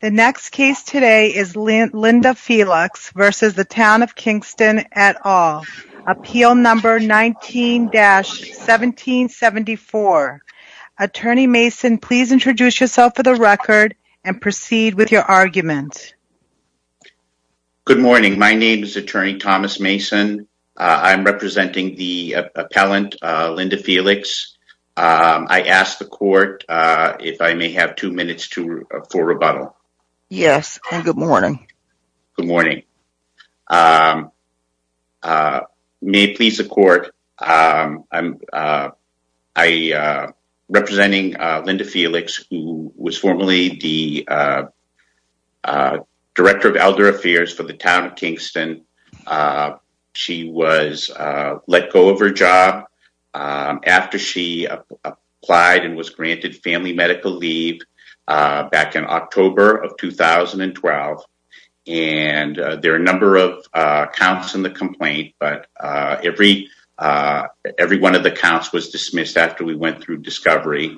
The next case today is Linda Felix versus the Town of Kingston et al. Appeal number 19-1774. Attorney Mason, please introduce yourself for the record and proceed with your argument. Good morning. My name is Attorney Thomas Mason. I'm representing the appellant, Linda Felix. I ask the court if I may have two minutes for rebuttal. Yes, and good morning. Good morning. May it please the court, I'm representing Linda Felix, who was formerly the Director of Elder Affairs for the Town of Kingston. She was let go of her job after she applied and was granted family medical leave back in October of 2012. And there are a number of counts in the complaint, but every one of the counts was dismissed after we went through discovery.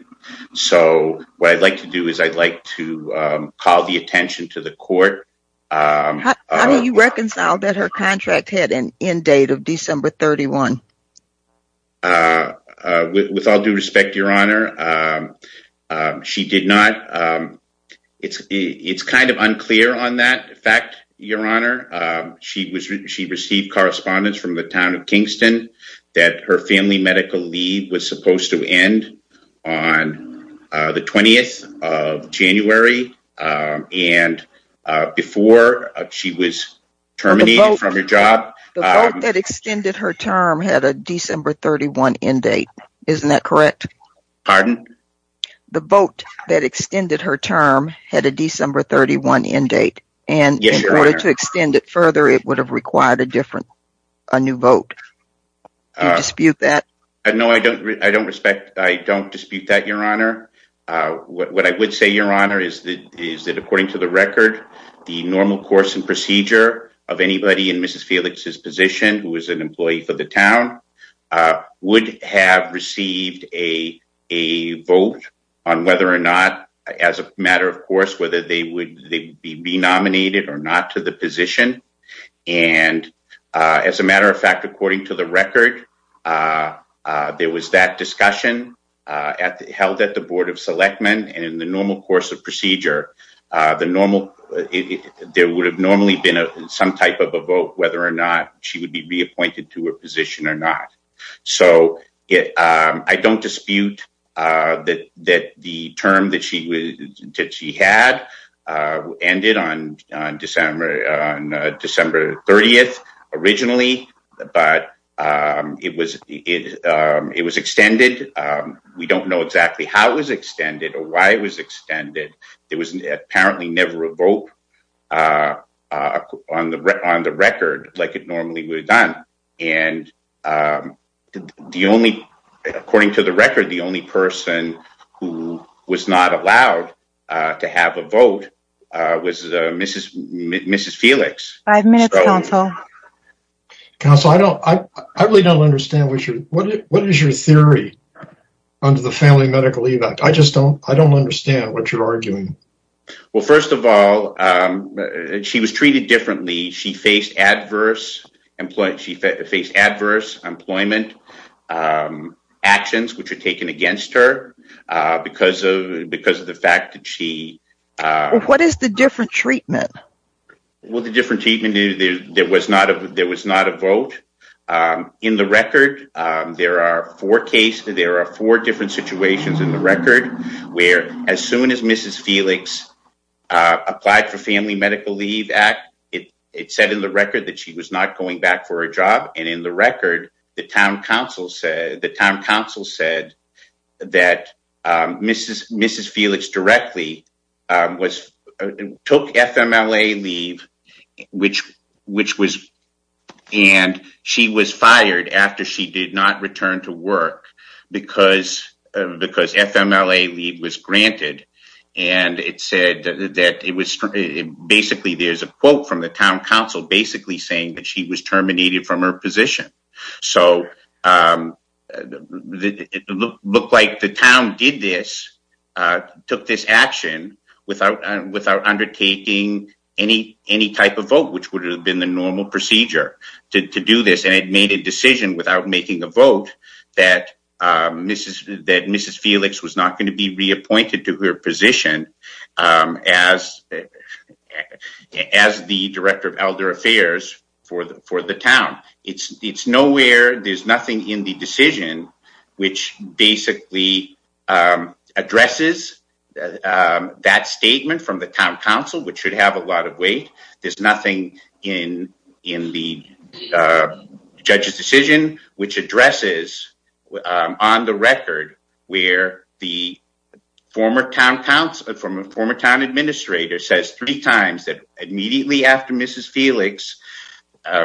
So what I'd like to do is I'd like to call the attention to the court. How do you reconcile that her contract had an end date of December 31? With all due respect, Your Honor, she did not. It's kind of unclear on that fact, Your Honor. She received correspondence from the Town of Kingston that her family medical leave was supposed to end on the 20th of January. And before she was terminated from her job. The vote that extended her term had a December 31 end date. Isn't that correct? Pardon? The vote that extended her term had a December 31 end date. And in order to extend it further, it would have required a different, a new vote. Do you dispute that? No, I don't. I don't respect. I don't dispute that, Your Honor. What I would say, Your Honor, is that according to the record, the normal course and procedure of anybody in Mrs. Felix's position, who was an employee for the town, would have received a vote on whether or not as a matter of course, whether they would be nominated or not to the position. And as a matter of fact, according to the record, there was that discussion held at the Board of Selectmen. And in the normal course of procedure, there would have normally been some type of a vote whether or not she would be reappointed to her position or not. So I don't dispute that the term that she had ended on December 30th originally, but it was extended. We don't know exactly how it was extended or why it was extended. There was apparently never a vote on the record like it normally would have done. And according to the record, the only person who was not allowed to have a vote was Mrs. Felix. Five minutes, Counsel. Counsel, I really don't understand. What is your theory under the Family Medical Evac? I just don't understand what you're arguing. Well, first of all, she was treated differently. She faced adverse employment. She faced adverse employment actions which are taken against her because of the fact that she. What is the different treatment? Well, the different treatment there was not a vote in the record. There are four cases. There are four different situations in the record where as soon as Mrs. It said in the record that she was not going back for a job. And in the record, the town council said that Mrs. Felix directly took FMLA leave, which was and she was fired after she did not return to work because FMLA leave was granted. And it said that it was basically there's a quote from the town council basically saying that she was terminated from her position. So it looked like the town did this, took this action without without undertaking any any type of vote, which would have been the normal procedure to do this. And it made a decision without making the vote that Mrs. That Mrs. Felix was not going to be reappointed to her position as as the director of elder affairs for the for the town. It's nowhere. There's nothing in the decision which basically addresses that statement from the town council, which should have a lot of weight. There's nothing in in the judge's decision which addresses on the record where the former town council from a former town administrator says three times that immediately after Mrs. Felix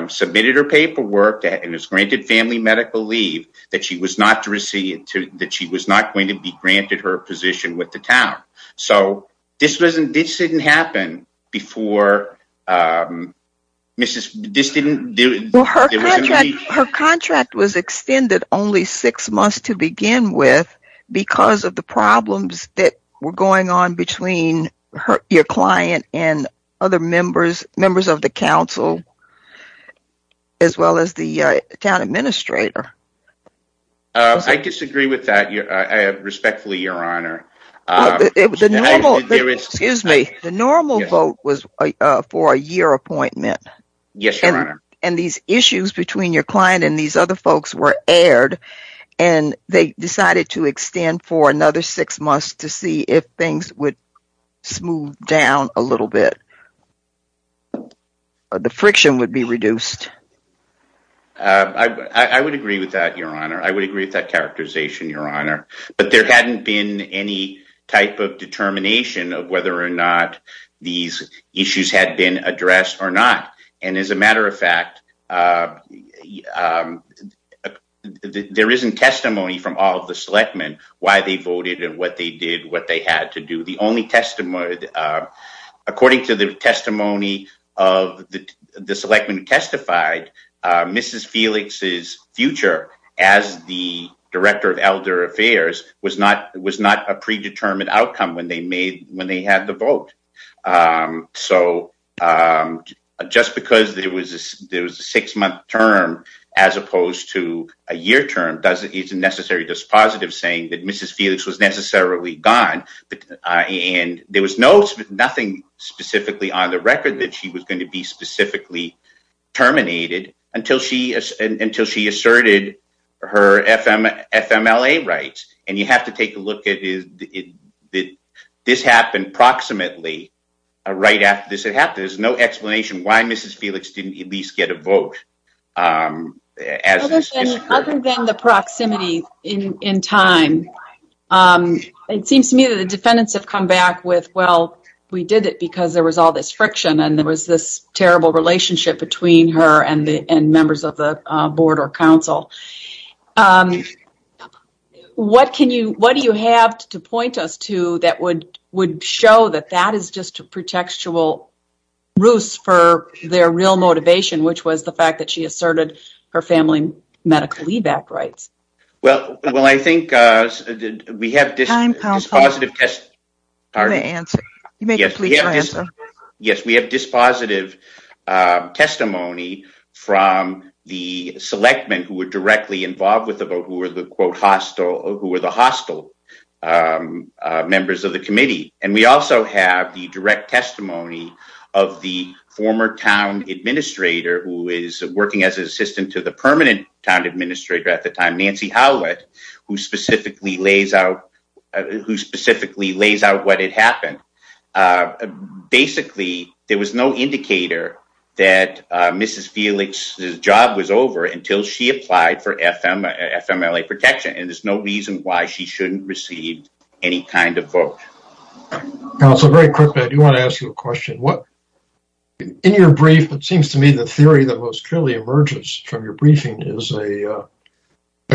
submitted her paperwork and is granted family medical leave that she was not to receive that she was not going to be granted her position with the town. So this wasn't this didn't happen before Mrs. This didn't do her. Her contract was extended only six months to begin with because of the problems that were going on between your client and other members, members of the council, as well as the town administrator. I disagree with that respectfully, Your Honor. It was a normal. Excuse me. The normal vote was for a year appointment. Yes, Your Honor. And these issues between your client and these other folks were aired and they decided to extend for another six months to see if things would smooth down a little bit. The friction would be reduced. I would agree with that, Your Honor. I would agree with that characterization, Your Honor. But there hadn't been any type of determination of whether or not these issues had been addressed or not. And as a matter of fact, there isn't testimony from all of the selectmen why they voted and what they did, what they had to do. The only testimony, according to the testimony of the selectmen who testified, Mrs. Felix's future as the director of elder affairs was not was not a predetermined outcome when they made when they had the vote. So just because there was there was a six month term as opposed to a year term doesn't isn't necessary dispositive saying that Mrs. Felix was necessarily gone. And there was no nothing specifically on the record that she was going to be specifically terminated until she until she asserted her FMLA rights. And you have to take a look at it. This happened approximately right after this. There's no explanation why Mrs. Felix didn't at least get a vote. Other than the proximity in time. It seems to me that the defendants have come back with, well, we did it because there was all this friction and there was this terrible relationship between her and the and members of the board or council. What can you what do you have to point us to that would would show that that is just a pretextual ruse for their real motivation, which was the fact that she asserted her family medical leave back rights? Well, well, I think we have this positive test. Pardon the answer. Yes. Yes. We have dispositive testimony from the selectmen who were directly involved with the vote, who were the quote hostile, who were the hostile members of the committee. And we also have the direct testimony of the former town administrator who is working as an assistant to the permanent town administrator at the time, Nancy Howlett, who specifically lays out who specifically lays out what had happened. Basically, there was no indicator that Mrs. Felix's job was over until she applied for FMLA protection. And there's no reason why she shouldn't receive any kind of vote. Also, very quickly, I do want to ask you a question. In your brief, it seems to me the theory that most clearly emerges from your briefing is a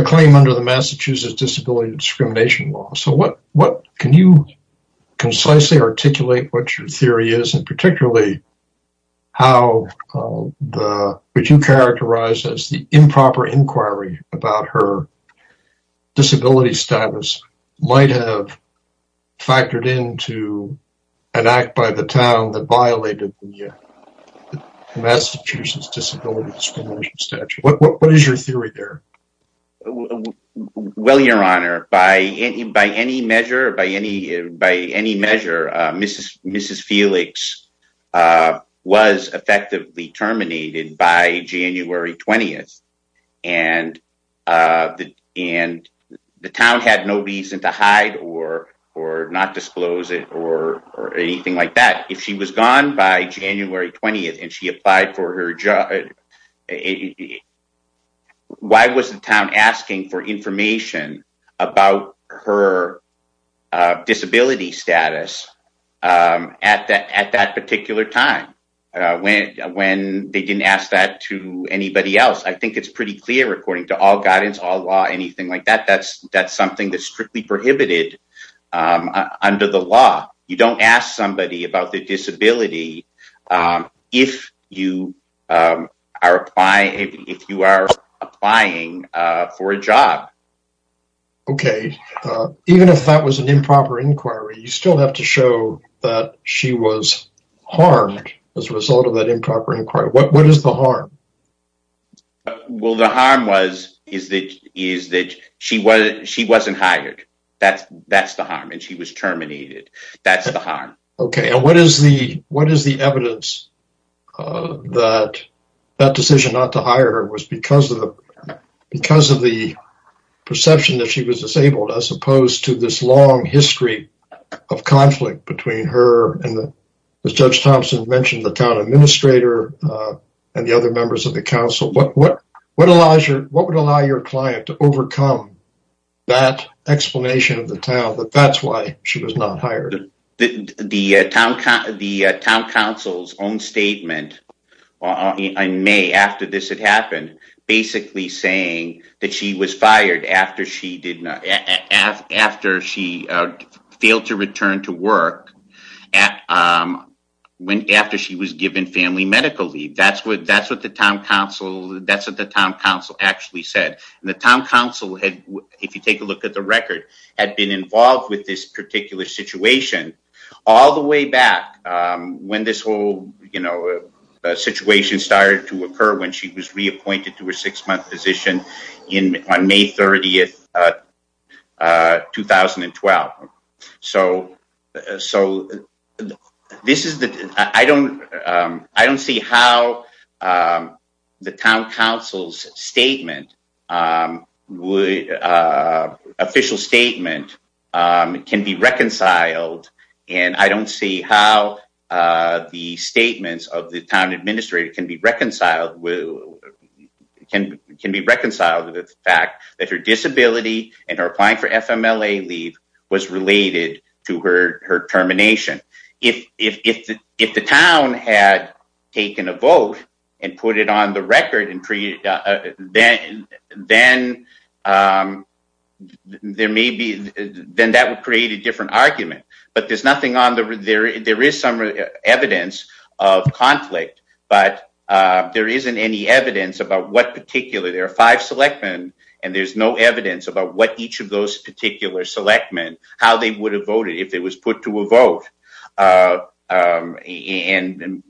claim under the Massachusetts disability discrimination law. So what what can you concisely articulate what your theory is and particularly how would you characterize as the improper inquiry about her disability status might have factored into an act by the town that violated the Massachusetts disability discrimination statute? What is your theory there? Well, your honor, by any by any measure, by any by any measure, Mrs. Mrs. or anything like that, if she was gone by January 20th and she applied for her job, why was the town asking for information about her disability status at that at that particular time when when they didn't ask that to anybody else? I think it's pretty clear, according to all guidance, all law, anything like that. That's that's something that's strictly prohibited under the law. You don't ask somebody about the disability if you are applying if you are applying for a job. OK, even if that was an improper inquiry, you still have to show that she was harmed as a result of that improper inquiry. What is the harm? Well, the harm was is that is that she was she wasn't hired. That's that's the harm. And she was terminated. That's the harm. OK, and what is the what is the evidence that that decision not to hire her was because of the because of the perception that she was disabled, as opposed to this long history of conflict between her and the judge Thompson mentioned, the town administrator and the other members of the council? But what what allows you what would allow your client to overcome that explanation of the town that that's why she was not hired? The town council's own statement in May after this had happened, basically saying that she was fired after she did not after she failed to return to work at when after she was given family medical leave. That's what that's what the town council. That's what the town council actually said. And the town council had, if you take a look at the record, had been involved with this particular situation all the way back when this whole, you know, situation started to occur when she was reappointed to a six month position in May 30th, 2012. So, so this is the I don't I don't see how the town council's statement would official statement can be reconciled. And I don't see how the statements of the town administrator can be reconciled with can can be reconciled with the fact that her disability and are applying for FMLA leave was related to her her termination. If, if, if the town had taken a vote and put it on the record and created, then, then there may be, then that would create a different argument, but there's nothing on the there there is some evidence of conflict, but there isn't any evidence about what particular there are five select men, and there's no evidence about what each of those particular select men, how they would have voted if it was put to a vote. And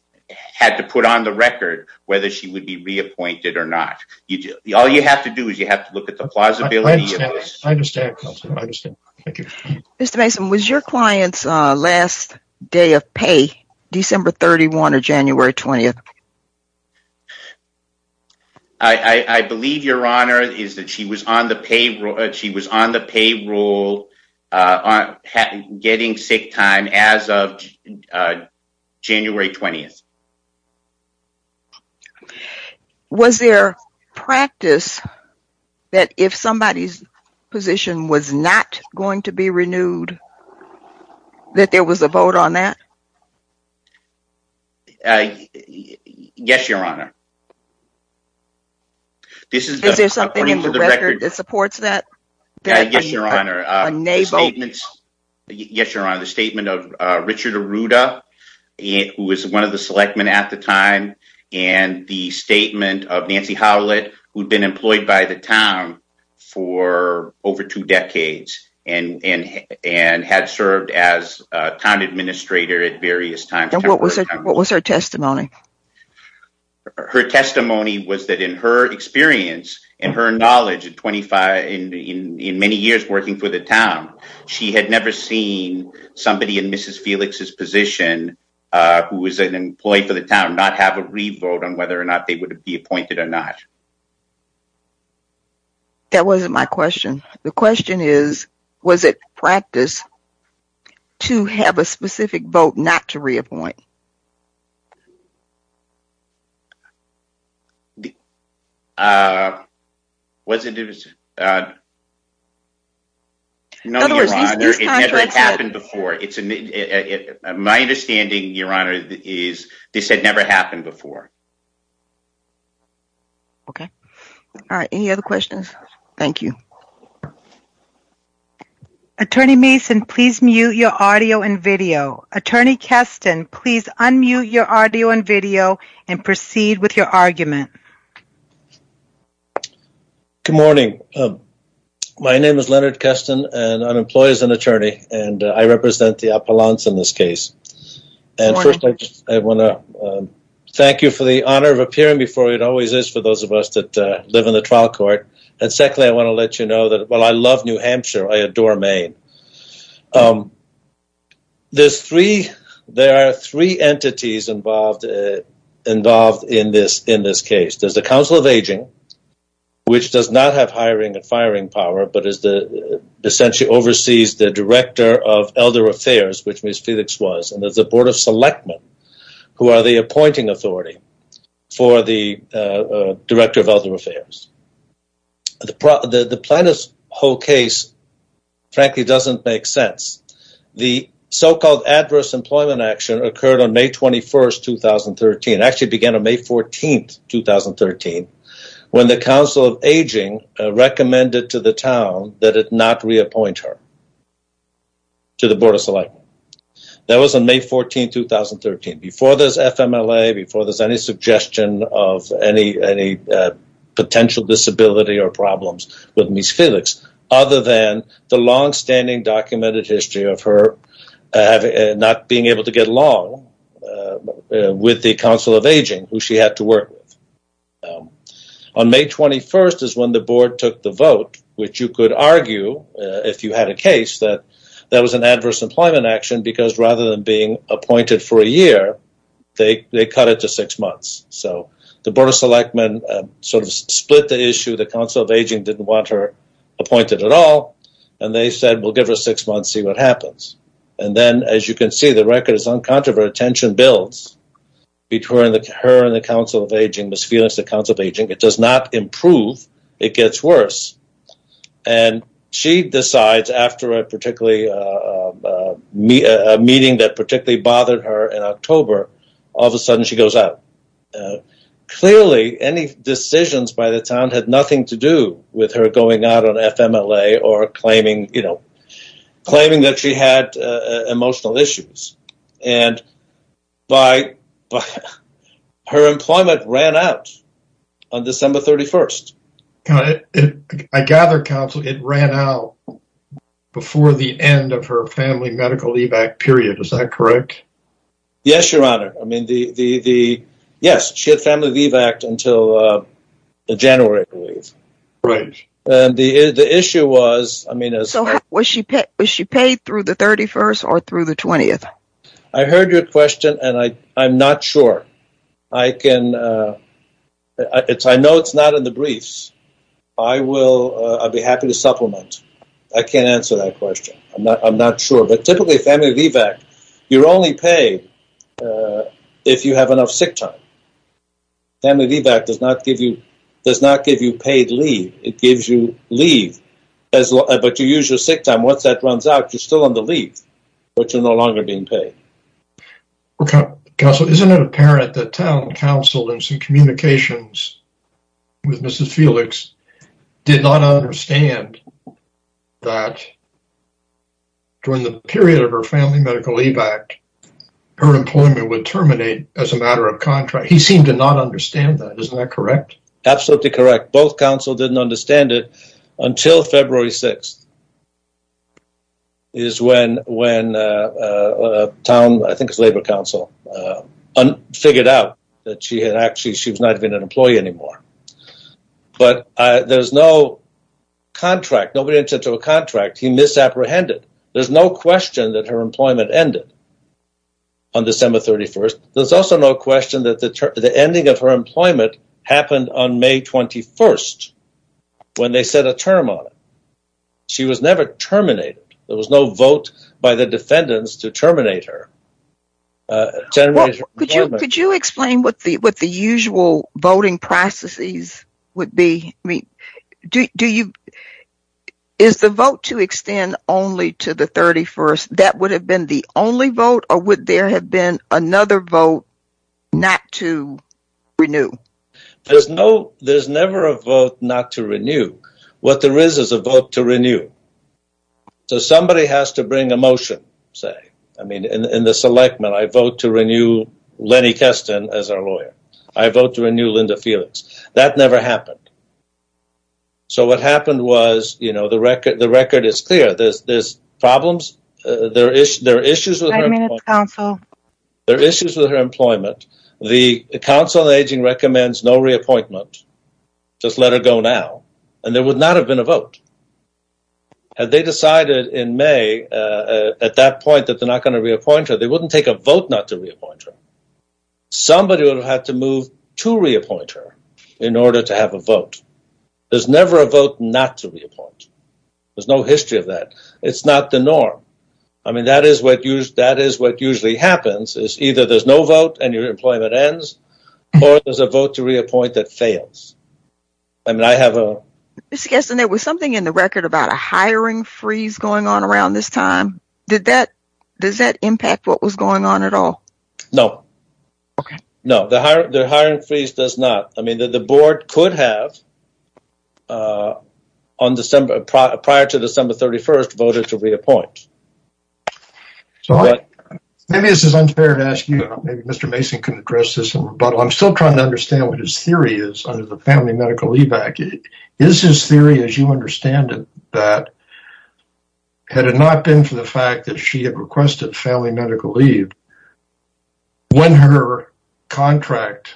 had to put on the record, whether she would be reappointed or not, you do all you have to do is you have to look at the plausibility. Mr. Mason was your clients last day of pay, December 31 or January 20. I believe your honor is that she was on the payroll, she was on the payroll on getting sick time as of January 20. Was there practice that if somebody's position was not going to be renewed. That there was a vote on that. Yes, Your Honor. This is there something in the record that supports that. Yes, Your Honor, the statement of Richard Arruda, who was one of the select men at the time, and the statement of Nancy Howlett, who'd been employed by the town for over two decades, and, and, and had served as town administrator at various times. What was it, what was her testimony. Her testimony was that in her experience, and her knowledge of 25 in in many years working for the town. She had never seen somebody in Mrs. Felix's position, who was an employee for the town not have a revote on whether or not they would be appointed or not. That wasn't my question. The question is, was it practice to have a specific vote not to reappoint. Uh, wasn't it. No, it's never happened before it's a. My understanding, Your Honor, is this had never happened before. Okay. All right. Any other questions. Thank you. Attorney Mason, please mute your audio and video. Attorney Keston, please unmute your audio and video. And proceed with your argument. Good morning. My name is Leonard Keston, and I'm employed as an attorney, and I represent the Appalachians in this case. And I want to thank you for the honor of appearing before it always is for those of us that live in the trial court. And secondly, I want to let you know that, well, I love New Hampshire, I adore Maine. Um, there's three, there are three entities involved, involved in this, in this case. There's the Council of Aging, which does not have hiring and firing power, but is the essentially oversees the Director of Elder Affairs, which Ms. Felix was. And there's a Board of Selectmen, who are the appointing authority for the Director of Elder Affairs. The plaintiff's whole case, frankly, doesn't make sense. The so-called adverse employment action occurred on May 21st, 2013, actually began on May 14th, 2013, when the Council of Aging recommended to the town that it not reappoint her to the Board of Selectmen. That was on May 14th, 2013, before there's FMLA, before there's any suggestion of any potential disability or problems with Ms. Felix, other than the long-standing documented history of her not being able to get along with the Council of Aging, who she had to work with. On May 21st is when the Board took the vote, which you could argue, if you had a case, that that was an adverse employment action, because rather than being appointed for a year, they cut it to six months. So the Board of Selectmen sort of split the issue, the Council of Aging didn't want her appointed at all, and they said, we'll give her six months, see what happens. And then, as you can see, the record is uncontroversial. Tension builds between her and the Council of Aging, Ms. Felix, the Council of Aging. It does not improve. It gets worse. And she decides, after a meeting that particularly bothered her in October, all of a sudden she goes out. Clearly, any decisions by the town had nothing to do with her going out on FMLA or claiming that she had emotional issues. And her employment ran out on December 31st. I gather it ran out before the end of her family medical leave-back period, is that correct? Yes, Your Honor. Yes, she had family leave-back until January, I believe. Right. And the issue was, I mean, So was she paid through the 31st or through the 20th? I heard your question, and I'm not sure. I know it's not in the briefs. I'll be happy to supplement. I can't answer that question. I'm not sure. But typically family leave-back, you're only paid if you have enough sick time. Family leave-back does not give you paid leave. It gives you leave. But you use your sick time. Once that runs out, you're still on the leave, but you're no longer being paid. Counsel, isn't it apparent that Town Council, in some communications with Mrs. Felix, did not understand that during the period of her family medical leave-back, her employment would terminate as a matter of contract. He seemed to not understand that. Isn't that correct? Absolutely correct. Both counsel didn't understand it until February 6th is when Town, I think it's Labor Council, figured out that she had actually, she was not even an employee anymore. But there's no contract. Nobody entered into a contract. He misapprehended. There's no question that her employment ended on December 31st. There's also no question that the ending of her employment happened on May 21st, when they set a term on it. She was never terminated. There was no vote by the defendants to terminate her. Could you explain what the usual voting processes would be? Is the vote to extend only to the 31st, that would have been the only vote, or would there have been another vote not to renew? There's never a vote not to renew. What there is is a vote to renew. So somebody has to bring a motion, say. I mean, in this election, I vote to renew Lenny Kesten as our lawyer. I vote to renew Linda Felix. That never happened. So what happened was, you know, the record is clear. There's problems. There are issues with her employment. The Council on Aging recommends no reappointment, just let her go now, and there would not have been a vote. Had they decided in May at that point that they're not going to reappoint her, they wouldn't take a vote not to reappoint her. Somebody would have had to move to reappoint her in order to have a vote. There's never a vote not to reappoint. There's no history of that. It's not the norm. I mean, that is what usually happens is either there's no vote and your employment ends or there's a vote to reappoint that fails. I mean, I have a – Mr. Kesten, there was something in the record about a hiring freeze going on around this time. Does that impact what was going on at all? No. Okay. No, the hiring freeze does not. I mean, the board could have, prior to December 31st, voted to reappoint. Maybe this is unfair to ask you. Maybe Mr. Mason can address this in rebuttal. I'm still trying to understand what his theory is under the family medical leave act. Is his theory, as you understand it, that had it not been for the fact that she had requested family medical leave, when her contract,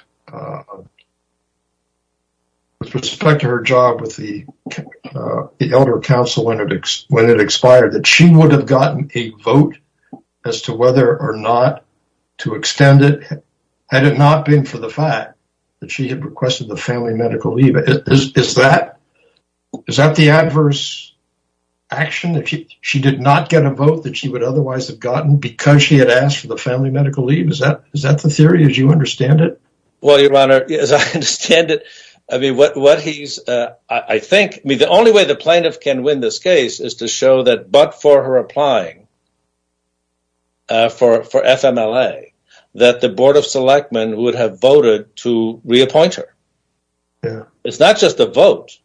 with respect to her job with the elder council when it expired, that she would have gotten a vote as to whether or not to extend it, had it not been for the fact that she had requested the family medical leave. Is that the adverse action that she did not get a vote that she would otherwise have gotten because she had asked for the family medical leave? Is that the theory as you understand it? Well, Your Honor, as I understand it, I mean, what he's, I think, I mean, the only way the plaintiff can win this case is to show that but for her applying for FMLA, that the board of selectmen would have voted to reappoint her. Yeah. It's not just a vote.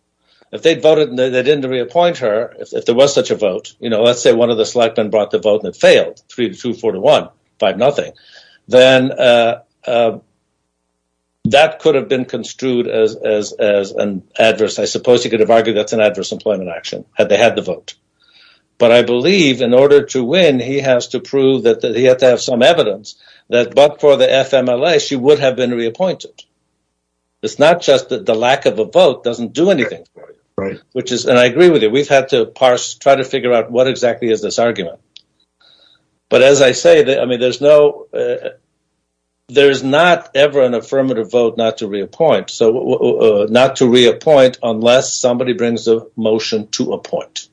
If they'd voted and they didn't reappoint her, if there was such a vote, you know, let's say one of the selectmen brought the vote and it failed, 3-2, 4-1, 5-0, then that could have been construed as an adverse, I suppose you could have argued that's an adverse employment action, had they had the vote. But I believe in order to win, he has to prove that he had to have some evidence that but for the FMLA, she would have been reappointed. It's not just that the lack of a vote doesn't do anything. Right. Which is, and I agree with you, we've had to parse, try to figure out what exactly is this argument. But as I say, I mean, there's no, there's not ever an affirmative vote not to reappoint. So not to reappoint unless somebody brings a motion to appoint.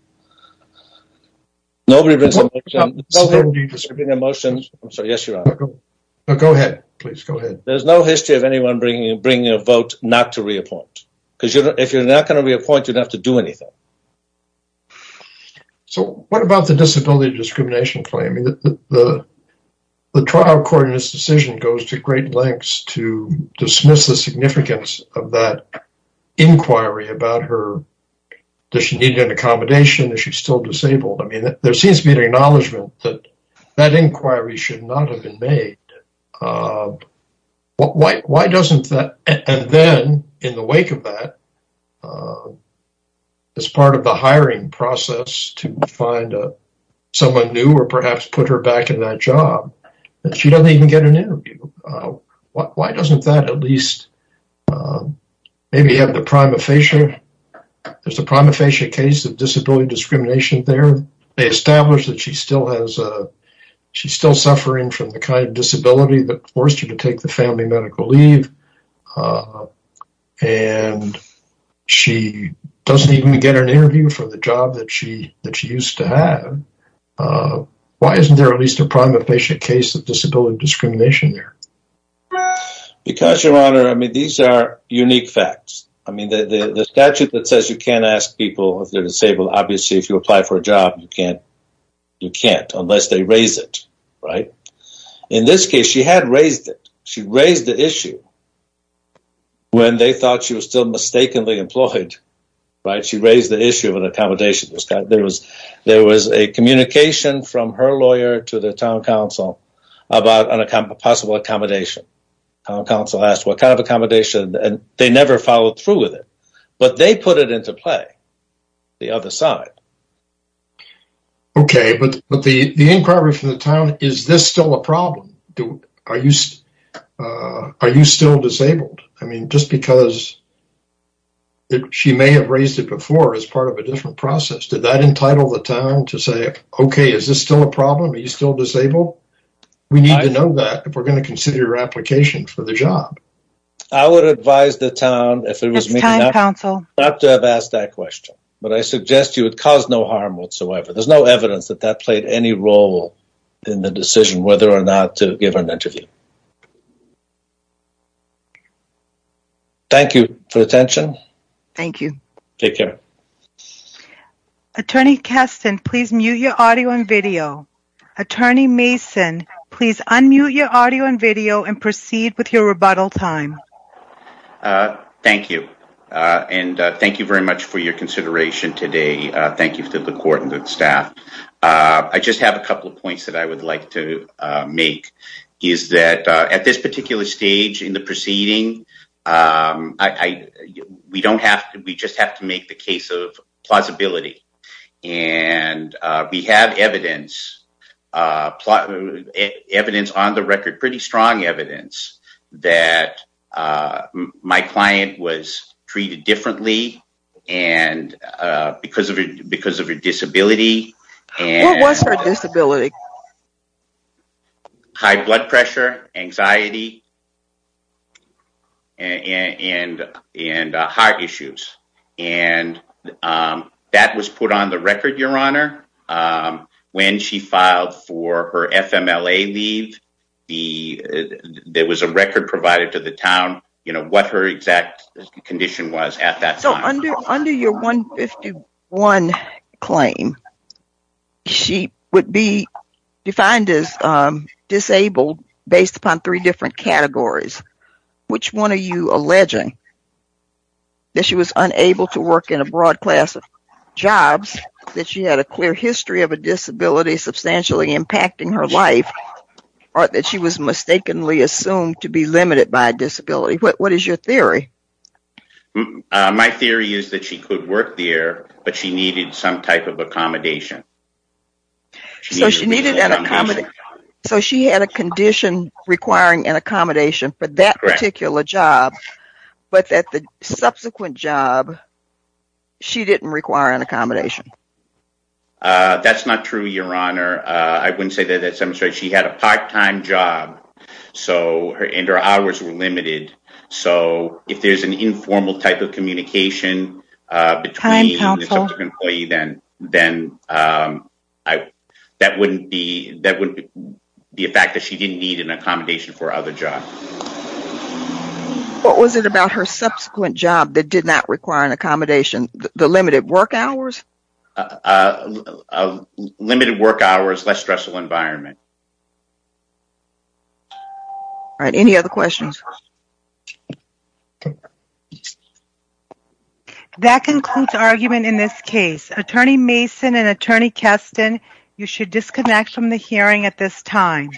Nobody brings a motion. I'm sorry. Yes, Your Honor. Go ahead, please. Go ahead. There's no history of anyone bringing a vote not to reappoint. Because if you're not going to reappoint, you don't have to do anything. So what about the disability discrimination claim? The trial court in this decision goes to great lengths to dismiss the significance of that inquiry about her, does she need an accommodation, is she still disabled? I mean, there seems to be an acknowledgement that that inquiry should not have been made. Why doesn't that, and then in the wake of that as part of the hiring process to find someone new or perhaps put her back in that job, that she doesn't even get an interview. Why doesn't that at least maybe have the prima facie, there's a prima facie case of disability discrimination there. They established that she still has, she's still suffering from the kind of disability that forced her to take the family medical leave and she doesn't even get an interview for the job that she used to have. Why isn't there at least a prima facie case of disability discrimination there? Because, Your Honor, I mean, these are unique facts. I mean, the statute that says you can't ask people if they're disabled, obviously if you apply for a job, you can't. Unless they raise it, right? In this case, she had raised it. She raised the issue when they thought she was still mistakenly employed, right? She raised the issue of an accommodation. There was a communication from her lawyer to the town council about a possible accommodation. Town council asked what kind of accommodation and they never followed through with it. But they put it into play, the other side. Okay. But the inquiry from the town, is this still a problem? Are you still disabled? I mean, just because she may have raised it before as part of a different process, did that entitle the town to say, okay, is this still a problem? Are you still disabled? We need to know that if we're going to consider your application for the job. I would advise the town if it was me, not to have asked that question. But I suggest you it caused no harm whatsoever. There's no evidence that that played any role in the decision whether or not to give an interview. Thank you for attention. Thank you. Take care. Attorney Keston, please mute your audio and video. Attorney Mason, please unmute your audio and video and proceed with your rebuttal time. Thank you. Thank you very much for your consideration today. Thank you to the court and the staff. I just have a couple of points that I would like to make, is that at this particular stage in the proceeding, we don't have to, we just have to make the case of plausibility. And we have evidence, evidence on the record, pretty strong evidence, that my client was treated differently because of her disability. What was her disability? High blood pressure, anxiety, and heart issues. And that was put on the record, Your Honor. When she filed for her FMLA leave, there was a record provided to the town, you know, what her exact condition was at that time. So under your 151 claim, she would be defined as disabled based upon three different categories. Which one are you alleging? That she was unable to work in a broad class of jobs, that she had a clear history of a disability substantially impacting her life, or that she was My theory is that she could work there, but she needed some type of accommodation. So she needed an accommodation. So she had a condition requiring an accommodation for that particular job, but that the subsequent job, she didn't require an accommodation. That's not true, Your Honor. I wouldn't say that that's demonstrated. She had a part-time job, and her hours were limited. So if there's an informal type of communication between the subsequent employee, then that wouldn't be a fact that she didn't need an accommodation for other jobs. What was it about her subsequent job that did not require an accommodation? The limited work hours? A limited work hours, less stressful environment. All right, any other questions? That concludes argument in this case. Attorney Mason and Attorney Keston, you should disconnect from the hearing at this time.